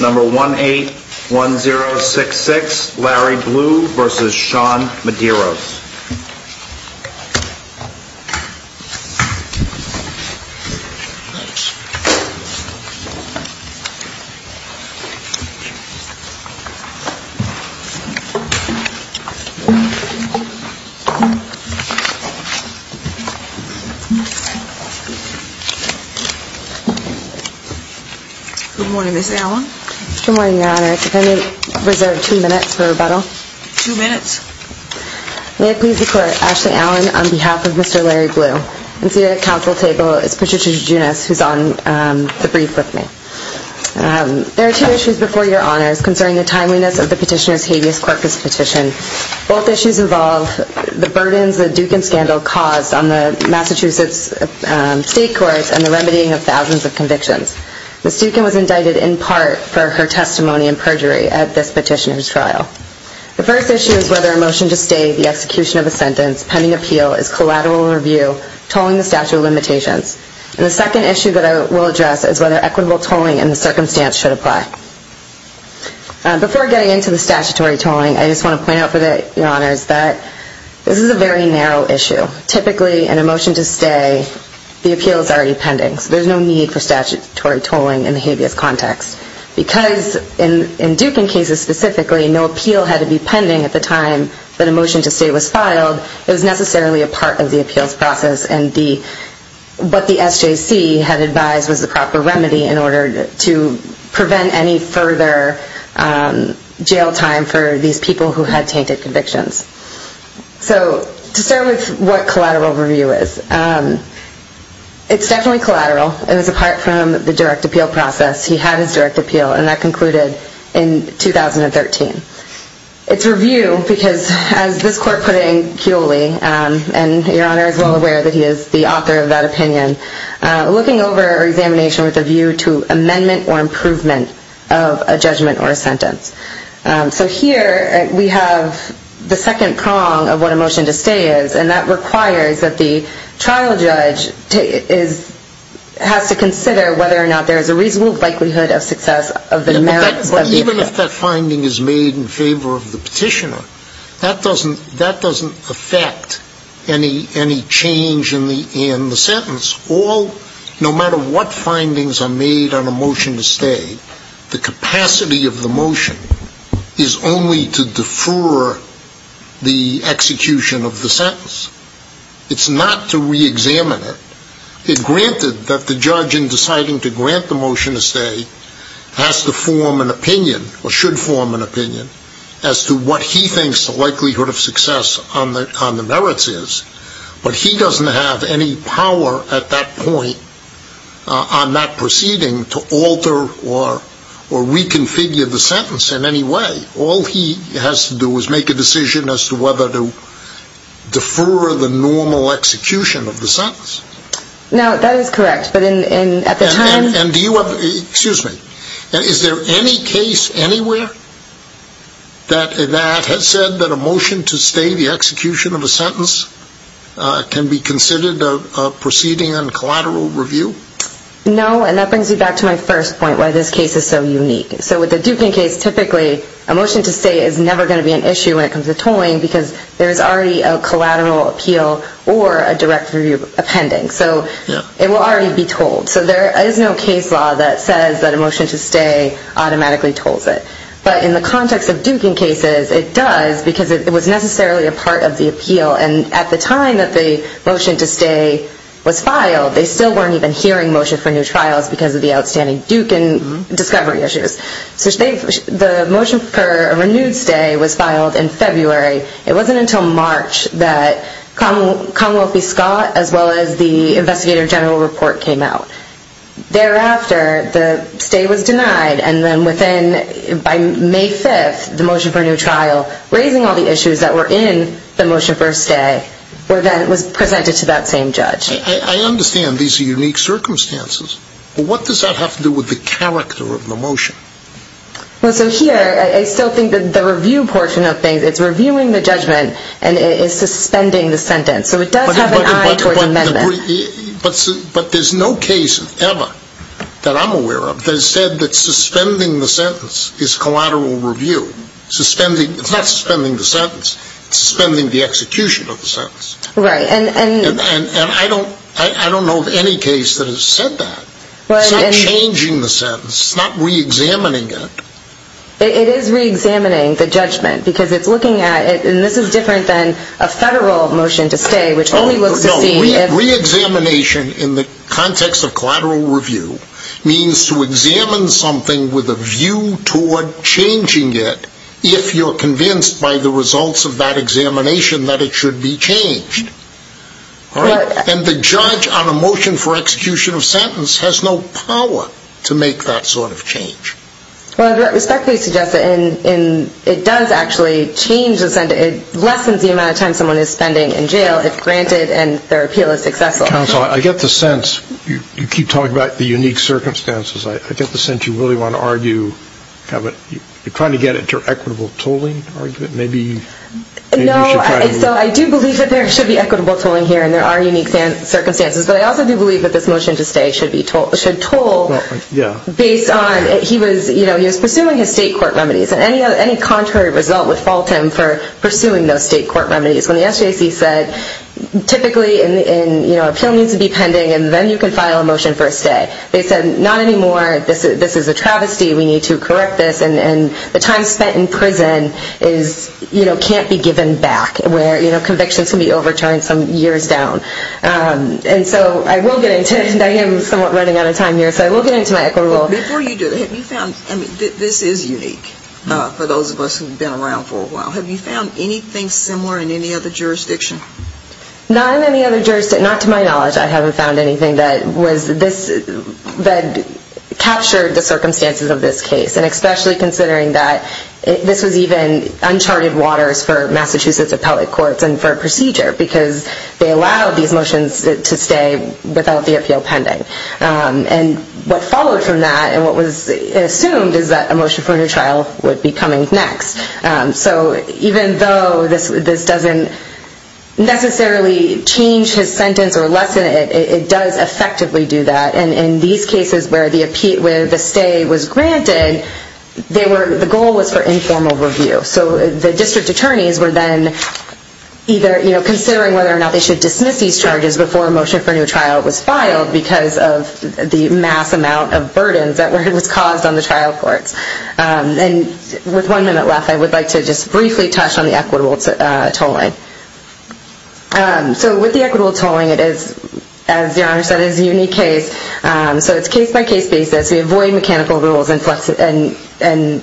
Number 181066, Larry Blue v. Sean Medeiros Good morning, Ms. Allen. Good morning, Your Honor. If I may reserve two minutes for rebuttal. Two minutes. May I please declare Ashley Allen on behalf of Mr. Larry Blue. And seated at the Council table is Petitioner Junius, who is on the brief with me. There are two issues before Your Honors concerning the timeliness of the Petitioner's Habeas Corpus petition. Both issues involve the burdens the Dukin scandal caused on the Massachusetts state courts and the remedying of thousands of convictions. The first issue is whether a motion to stay the execution of a sentence pending appeal is collateral in review, tolling the statute of limitations. And the second issue that I will address is whether equitable tolling in the circumstance should apply. Before getting into the statutory tolling, I just want to point out for Your Honors that this is a very narrow issue. Typically, in a motion to stay, the appeal is already pending. So there is no need for statutory tolling in the habeas context. Because in Dukin cases specifically, no appeal had to be pending at the time that a motion to stay was filed. It was necessarily a part of the appeals process. And what the SJC had advised was the proper remedy in order to prevent any further jail time for these people who had tainted convictions. So to start with what collateral review is, it's definitely collateral. It was a part from the direct appeal process. He had his direct appeal. And that concluded in 2013. It's review because as this court put it in Kewley, and Your Honor is well aware that he is the author of that opinion, looking over examination with a view to amendment or improvement of a judgment or a sentence. So here we have the second prong of what a motion to stay is. And that requires that the trial judge has to consider whether or not there is a reasonable likelihood of success of the merits of the appeal. Even if that finding is made in favor of the petitioner, that doesn't affect any change in the sentence. All, no matter what findings are made on a motion to stay, the capacity of the motion is only to defer the execution of the sentence. It's not to reexamine it. It granted that the judge in deciding to grant the motion to stay has to form an opinion or should form an opinion as to what he thinks the likelihood of success on the merits is. But he doesn't have any power at that point on that proceeding to alter or reconfigure the sentence in any way. All he has to do is make a decision as to whether to defer the normal execution of the sentence. Now, that is correct, but at the time... And do you have, excuse me, is there any case anywhere that has said that a motion to stay the execution of a sentence can be considered a proceeding on collateral review? No, and that brings me back to my first point, why this case is so unique. So with the Dukin case, typically a motion to stay is never going to be an issue when it comes to tolling because there is already a collateral appeal or a direct review appending. So it will already be told. So there is no case law that says that a motion to stay automatically tolls it. But in the context of Dukin cases, it does because it was necessarily a part of the appeal. And at the time that the motion to stay was filed, they still weren't even hearing motion for new trials because of the outstanding Dukin discovery issues. So the motion for a renewed stay was filed in February. It wasn't until March that Commonwealth v. Scott as well as the investigative general report came out. Thereafter, the stay was by May 5th, the motion for a new trial, raising all the issues that were in the motion for a stay was presented to that same judge. I understand these are unique circumstances, but what does that have to do with the character of the motion? Well, so here I still think that the review portion of things, it's reviewing the judgment and it is suspending the sentence. So it does have an eye towards amendment. But there's no case ever that I'm aware of that has said that suspending the sentence is collateral review. Suspending, it's not suspending the sentence, it's suspending the execution of the sentence. Right, and I don't, I don't know of any case that has said that. It's not changing the sentence, it's not re-examining it. It is re-examining the judgment because it's looking at it, and this is different than a federal motion to stay which only looks to see if... No, re-examination in the context of collateral review means to examine something with a view toward changing it if you're convinced by the results of that examination that it should be changed. Right. And the judge on a motion for execution of sentence has no power to make that sort of change. Well, I respectfully suggest that it does actually change the sentence, it lessens the amount of time someone is spending in jail if granted and their appeal is successful. Counsel, I get the sense, you keep talking about the unique circumstances, I get the sense that you really want to argue, you're trying to get it to equitable tolling, maybe you should try to... No, so I do believe that there should be equitable tolling here and there are unique circumstances but I also do believe that this motion to stay should toll based on, he was pursuing his state court remedies and any contrary result would fault him for pursuing those state court remedies. When the SJC said, typically an appeal needs to be pending and then you can file a motion for a stay, they said not anymore, this is a travesty, we need to correct this and the time spent in prison is, you know, can't be given back where convictions can be overturned some years down. And so I will get into, and I am somewhat running out of time here, so I will get into my equitable tolling. Before you do, have you found, I mean, this is unique for those of us who have been around for a while, have you found anything similar in any other jurisdiction? Not in any other jurisdiction, not to my knowledge, I haven't found anything that was, that captured the circumstances of this case and especially considering that this was even uncharted waters for Massachusetts appellate courts and for procedure because they allowed these motions to stay without the appeal pending. And what followed from that and what was assumed is that a motion for a new trial would be coming next. So even though this doesn't necessarily change his sentence or lessen it, it does effectively do that. And in these cases where the stay was granted, the goal was for informal review. So the district attorneys were then either considering whether or not they should dismiss these charges before a motion for a new trial was filed because of the mass amount of burdens that was caused on the trial courts. And with one minute left, I would like to just briefly touch on the equitable tolling. So with the equitable tolling, it is, as your Honor said, it is a unique case. So it's case by case basis. We avoid mechanical rules and,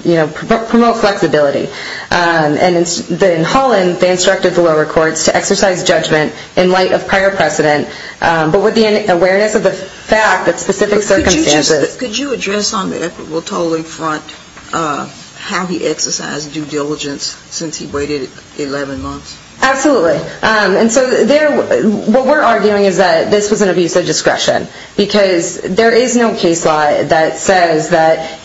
you know, promote flexibility. And in Holland, they instructed the lower courts to exercise judgment in light of prior precedent but with the awareness of the fact that specific circumstances. Could you address on the equitable tolling front how he exercised due diligence since he waited 11 months? Absolutely. And so what we're arguing is that this was an abuse of discretion because there is no case law that says that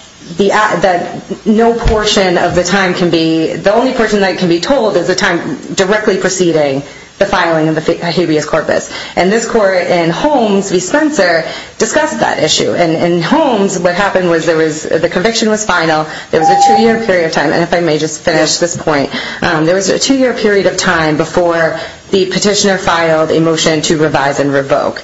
no portion of the time can be, the only portion that can be tolled is the time directly preceding the filing of the habeas corpus. And this court in Holmes v. Spencer discussed that issue. And in Holmes, what happened was there was, the conviction was final, there was a two-year period of time, and if I may just finish this point, there was a two-year period of time before the petitioner filed a motion to revise and revoke.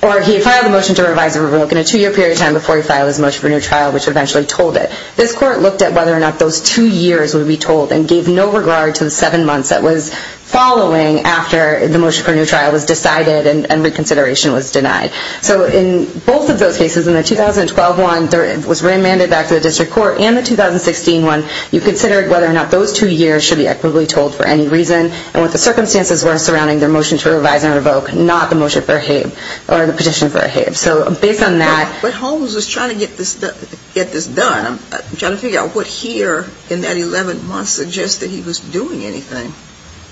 Or he filed a motion to revise and revoke in a two-year period of time before he filed his motion for a new trial, which eventually tolled it. This court looked at whether or not those two years would be tolled and gave no regard to the seven months that was following after the motion for a new trial was decided and reconsideration was denied. So in both of those cases, in the 2012 one that was remanded back to the district court and the 2016 one, you considered whether or not those two years should be equitably tolled for any reason, and what the circumstances were surrounding their motion to revise and revoke, not the motion for a habe, or the petition for a habe. So based on that But Holmes was trying to get this done. Trying to figure out what here in that 11 months would suggest that he was doing anything.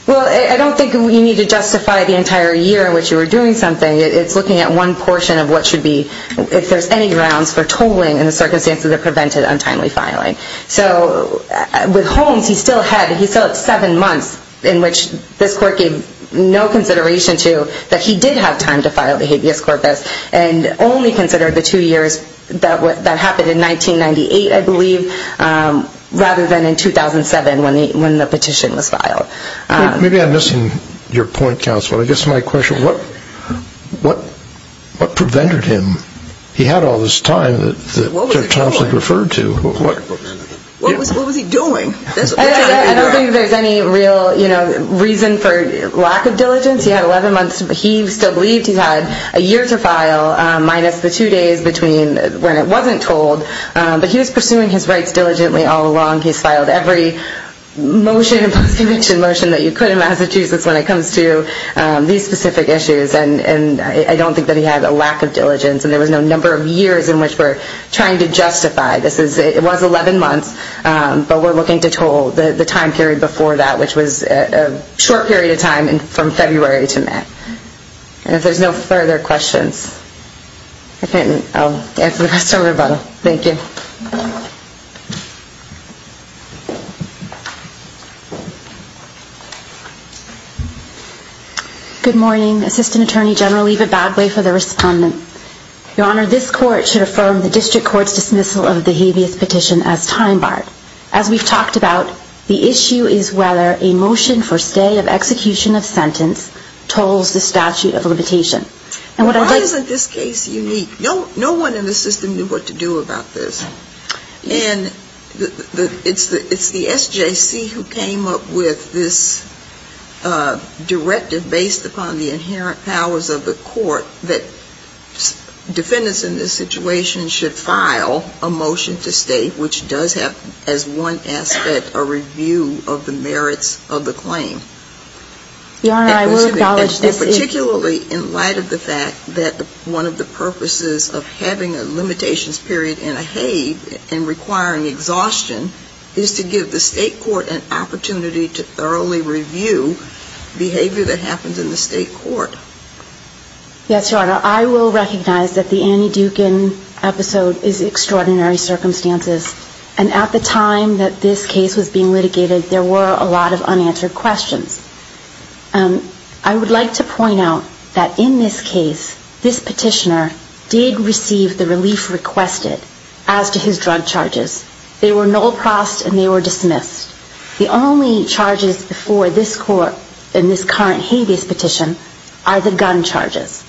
Well, I don't think you need to justify the entire year in which you were doing something. It's looking at one portion of what should be, if there's any grounds for tolling in the circumstances that prevented untimely filing. So with Holmes, he still had, he still had seven months in which this court gave no consideration to that he did have time to file the habeas corpus and only considered the two years that happened in 1998, I believe, rather than in 2007 when the petition was filed. Maybe I'm missing your point, counsel. I guess my question, what prevented him? He had all this time that Thompson referred to. What was he doing? I don't think there's any real reason for lack of diligence. He had 11 months, he still believed he had a year to file minus the two days between when it wasn't tolled. But he was pursuing his rights diligently all along. He's filed every motion, post conviction motion that you could in Massachusetts when it comes to these specific issues. And I don't think that he had a lack of diligence and there was no number of years in which we're trying to justify this. It was 11 months, but we're looking to toll the time period before that, which was a short period of time from February to May. And if there's no further questions, I'll hand it over to Rebuttal. Thank you. Good morning. Assistant Attorney General Eva Badway for the respondent. Your Honor, this court should affirm the district court's dismissal of the habeas petition as time barred. As we've talked about, the issue is whether a motion for stay of execution of sentence tolls the statute of limitation. Why isn't this case unique? No one in the system knew what to do about this. And it's the SJC who came up with this directive based upon the inherent powers of the court that defendants in this situation should file a motion to stay, which does have as one aspect a review of the merits of the claim. Your Honor, I will acknowledge this is And particularly in light of the fact that one of the purposes of having a limitations period in a habe and requiring exhaustion is to give the state court an opportunity to thoroughly review behavior that happens in the state court. Yes, Your Honor. I will recognize that the Annie Dukin episode is extraordinary circumstances. And at the time that this case was being litigated, there were a lot of unanswered questions. I would like to point out that in this case, this petitioner did receive the relief requested as to his drug charges. They were null prost and they were dismissed. The only charges before this court in this current habeas petition are the gun charges.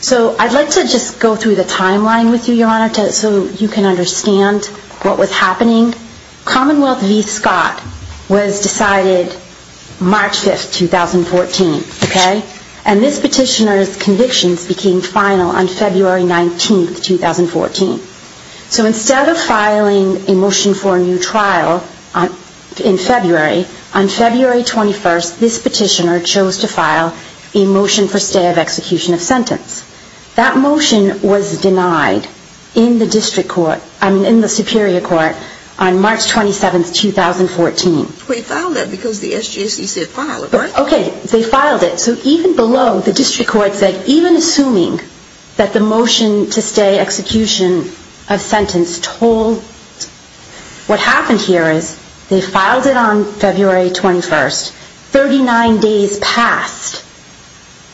So I'd like to just go through the timeline with you, Your Honor, so you can understand what was happening. Commonwealth v. Scott was decided March 5, 2014, okay? And this petitioner's convictions became final on February 19, 2014. So instead of filing a motion for a new trial in February, on February 21, this petitioner chose to file a motion for stay in the Superior Court on March 27, 2014. We filed that because the SGSC said file it, right? Okay, they filed it. So even below, the district court said, even assuming that the motion to stay execution of sentence told, what happened here is they filed it on February 21. Thirty-nine days passed.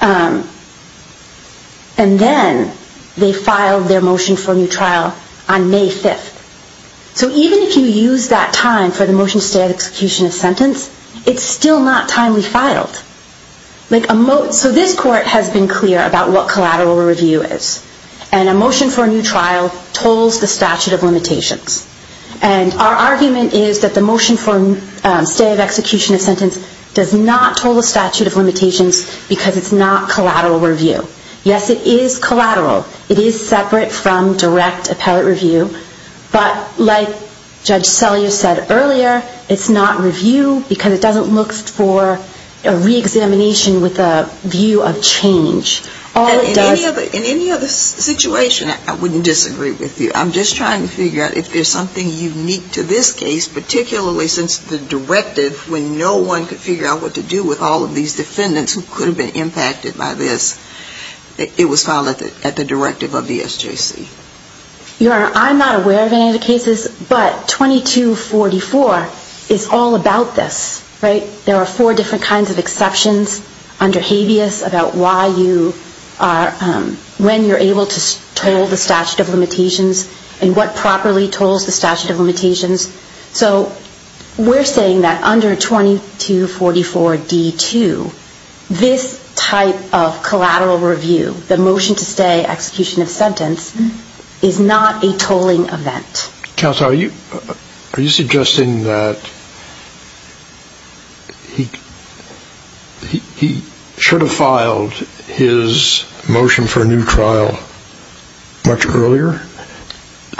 And then they filed their motion for a new trial on May 5. So even if you use that time for the motion to stay of execution of sentence, it's still not timely filed. So this court has been clear about what collateral review is. And a motion for a new trial tolls the statute of limitations. And our argument is that the motion for stay of execution of sentence does not toll the statute of limitations because it's not collateral review. Yes, it is collateral. It is separate from direct appellate review. But like Judge Sellier said earlier, it's not review because it doesn't look for a reexamination with a view of change. In any other situation, I wouldn't disagree with you. I'm just trying to figure out if there's something unique to this case, particularly since the directive when no one could figure out what to do with all of these defendants who could have been impacted by this, it was filed at the directive of the SJC. I'm not aware of any of the cases, but 2244 is all about this, right? There are four different kinds of exceptions under habeas about why you are, when you're able to toll the statute of limitations and what properly tolls the statute of limitations. So we're saying that under 2244D2, this type of collateral review, the motion to stay execution of sentence, is not a tolling event. Counsel, are you suggesting that he should have filed his motion for a new trial much earlier?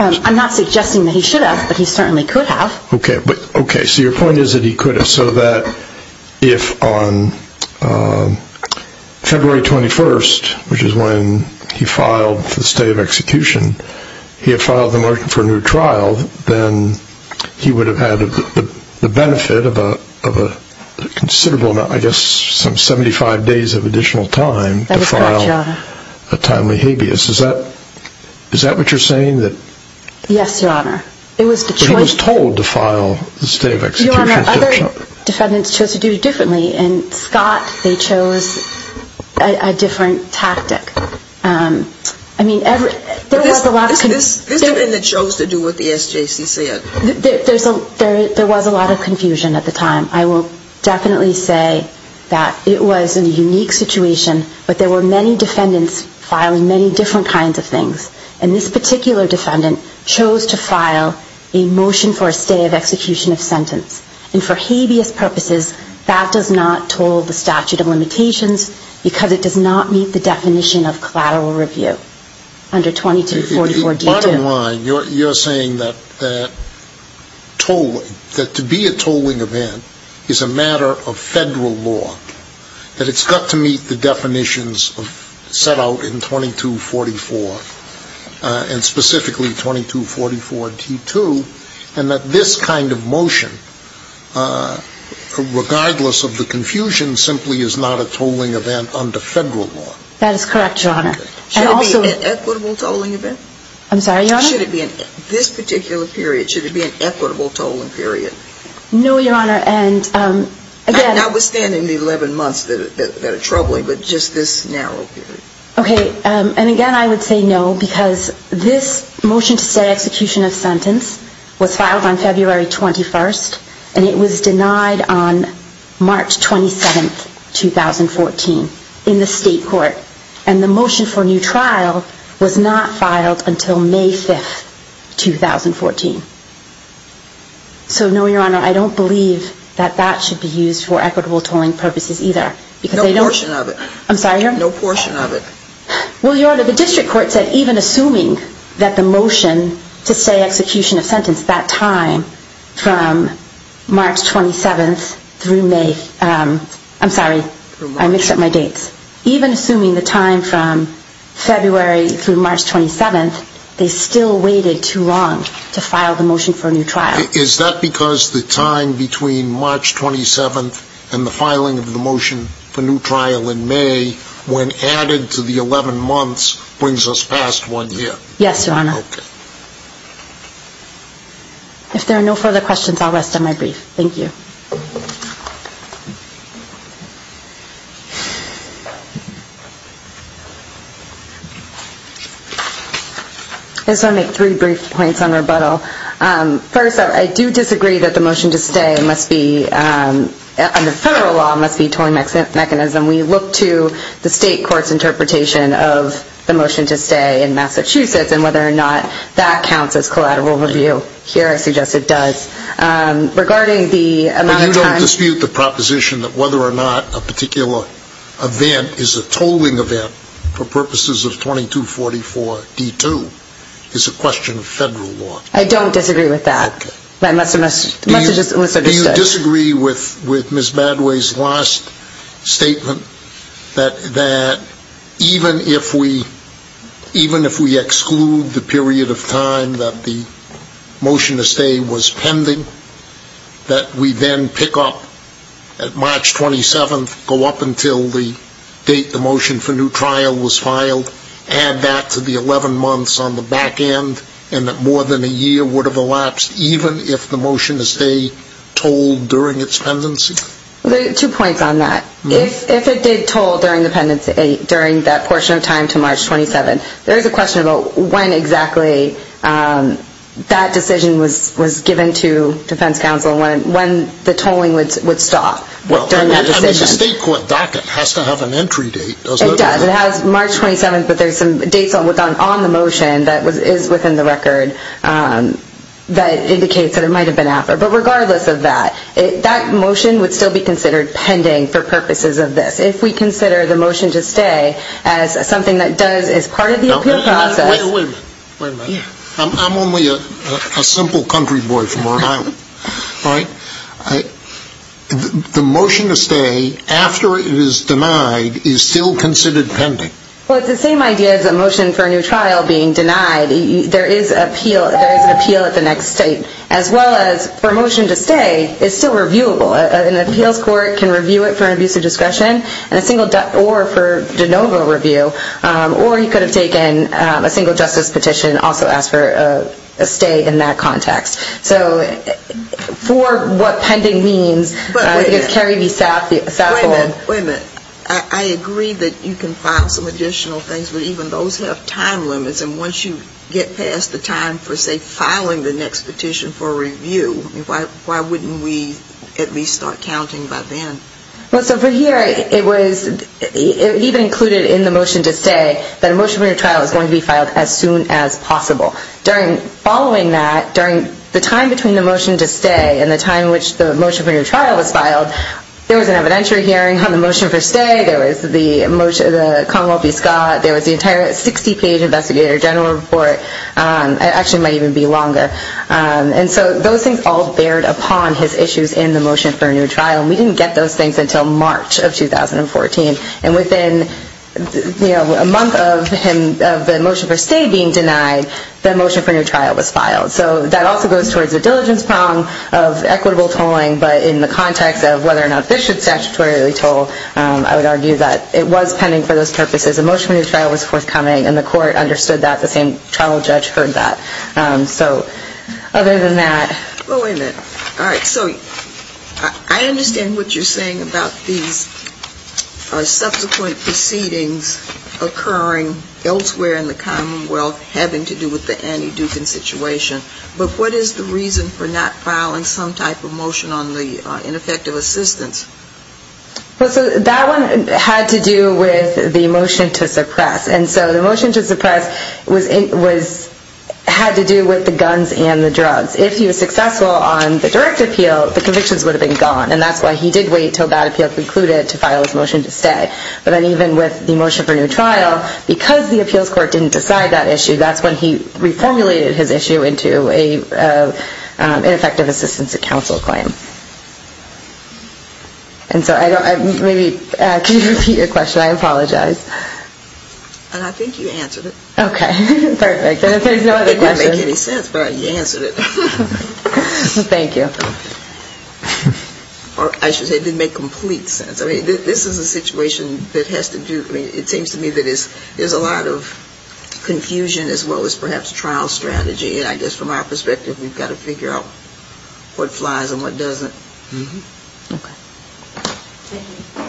I'm not suggesting that he should have, but he certainly could have. Okay, so your point is that he could have, so that if on February 21st, which is when he filed for the stay of execution, he had filed the motion for a new trial, then he would have had the benefit of a considerable amount, I guess some 75 days of additional time to file a timely habeas. Is that what you're saying, that he was told to file a stay of execution? Your Honor, other defendants chose to do it differently, and Scott, they chose a different tactic. I mean, there was a lot of confusion. This defendant chose to do what the SJC said. There was a lot of confusion at the time. I will definitely say that it was a unique situation, but there were many defendants filing many different kinds of things, and this particular defendant chose to file a motion for a stay of execution of sentence. And for habeas purposes, that does not toll the statute of limitations, because it does not meet the definition of collateral review under 2244D2. Bottom line, you're saying that tolling, that to be a tolling event is a matter of federal law, that it's got to meet the definitions set out in 2244, and specifically 2244D2, and that this kind of motion, regardless of the confusion, simply is not a tolling event under federal law? That is correct, Your Honor. Should it be an equitable tolling event? I'm sorry, Your Honor? Should it be in this particular period, should it be an equitable tolling period? No, Your Honor, and again… Notwithstanding the 11 months that are troubling, but just this narrow period. Okay, and again, I would say no, because this motion to stay execution of sentence was filed on February 21st, and it was denied on March 27th, 2014, in the state court. And the motion for new trial was not filed until May 5th, 2014. So no, Your Honor, I don't believe that that should be used for equitable tolling purposes either, because they don't… No portion of it. I'm sorry, Your Honor? No portion of it. Well, Your Honor, the district court said even assuming that the motion to stay execution of sentence that time from March 27th through May… I'm sorry, I mixed up my dates. Even assuming the time from February through March 27th, they still weighted too long to file the motion for a new trial. Is that because the time between March 27th and the filing of the motion for new trial in May, when added to the 11 months, brings us past one year? Yes, Your Honor. Okay. If there are no further questions, I'll rest on my brief. Thank you. I just want to make three brief points on rebuttal. First, I do disagree that the motion to stay must be, under federal law, must be a tolling mechanism. We look to the state court's interpretation of the motion to stay in Massachusetts and whether or not that counts as collateral review. Here, I suggest it does. But you don't dispute the proposition that whether or not a particular event is a tolling event for purposes of 2244D2 is a question of federal law? I don't disagree with that. Do you disagree with Ms. Badway's last statement that even if we exclude the period of time that the motion to stay was pending, that we then pick up at March 27th, go up until the date the motion for new trial was filed, add that to the 11 months on the back end, and that more than a year would have elapsed, even if the motion to stay tolled during its pendency? There are two points on that. If it did toll during the pendency, during that portion of March 27th, there is a question about when exactly that decision was given to defense counsel, when the tolling would stop. If the state court docket has to have an entry date, doesn't it? It does. It has March 27th, but there are some dates on the motion that is within the record that indicates that it might have been after. But regardless of that, that motion would still be considered pending for purposes of this. If we consider the motion to stay as something that does, is part of the appeal process. Wait a minute. I'm only a simple country boy from Rhode Island, right? The motion to stay after it is denied is still considered pending? Well, it's the same idea as a motion for a new trial being denied. There is an appeal at the next state. As well as for a motion to stay, it's still reviewable. An appeals over a review. Or you could have taken a single justice petition and also asked for a stay in that context. So for what pending means, I think it's Kerry v. Sassle. Wait a minute. I agree that you can file some additional things, but even those have time limits. And once you get past the time for, say, filing the next petition for review, why wouldn't we at least start counting by then? Well, so for here, it was even included in the motion to stay that a motion for a new trial is going to be filed as soon as possible. Following that, during the time between the motion to stay and the time in which the motion for a new trial was filed, there was an evidentiary hearing on the motion for stay. There was the Commonwealth v. Scott. There was the entire 60-page investigator general report. It actually might even be longer. And so those things all bared upon his issues in the motion for a new trial. And we didn't get those things until March of 2014. And within a month of the motion for stay being denied, the motion for a new trial was filed. So that also goes towards the diligence prong of equitable tolling. But in the context of whether or not this should statutorily toll, I would argue that it was pending for those purposes. A motion for a new trial was forthcoming, and the court did not approve it. All right. So I understand what you're saying about these subsequent proceedings occurring elsewhere in the Commonwealth having to do with the Annie Dukin situation. But what is the reason for not filing some type of motion on the ineffective assistance? Well, so that one had to do with the motion to suppress. And so the motion to suppress was had to do with the guns and the drugs. If he was successful on the direct appeal, the convictions would have been gone. And that's why he did wait until that appeal concluded to file his motion to stay. But then even with the motion for a new trial, because the appeals court didn't decide that issue, that's when he reformulated his issue into an ineffective assistance to counsel claim. And so maybe can you repeat your question? I apologize. And I think you answered it. Okay. Perfect. And if there's no other questions... It didn't make any sense, but you answered it. Thank you. Or I should say, it didn't make complete sense. I mean, this is a situation that has to do with, I mean, it seems to me that there's a lot of confusion as well as perhaps trial strategy. And I guess from our perspective, we've got to figure out what flies and what doesn't. Okay. Thank you. Thank you.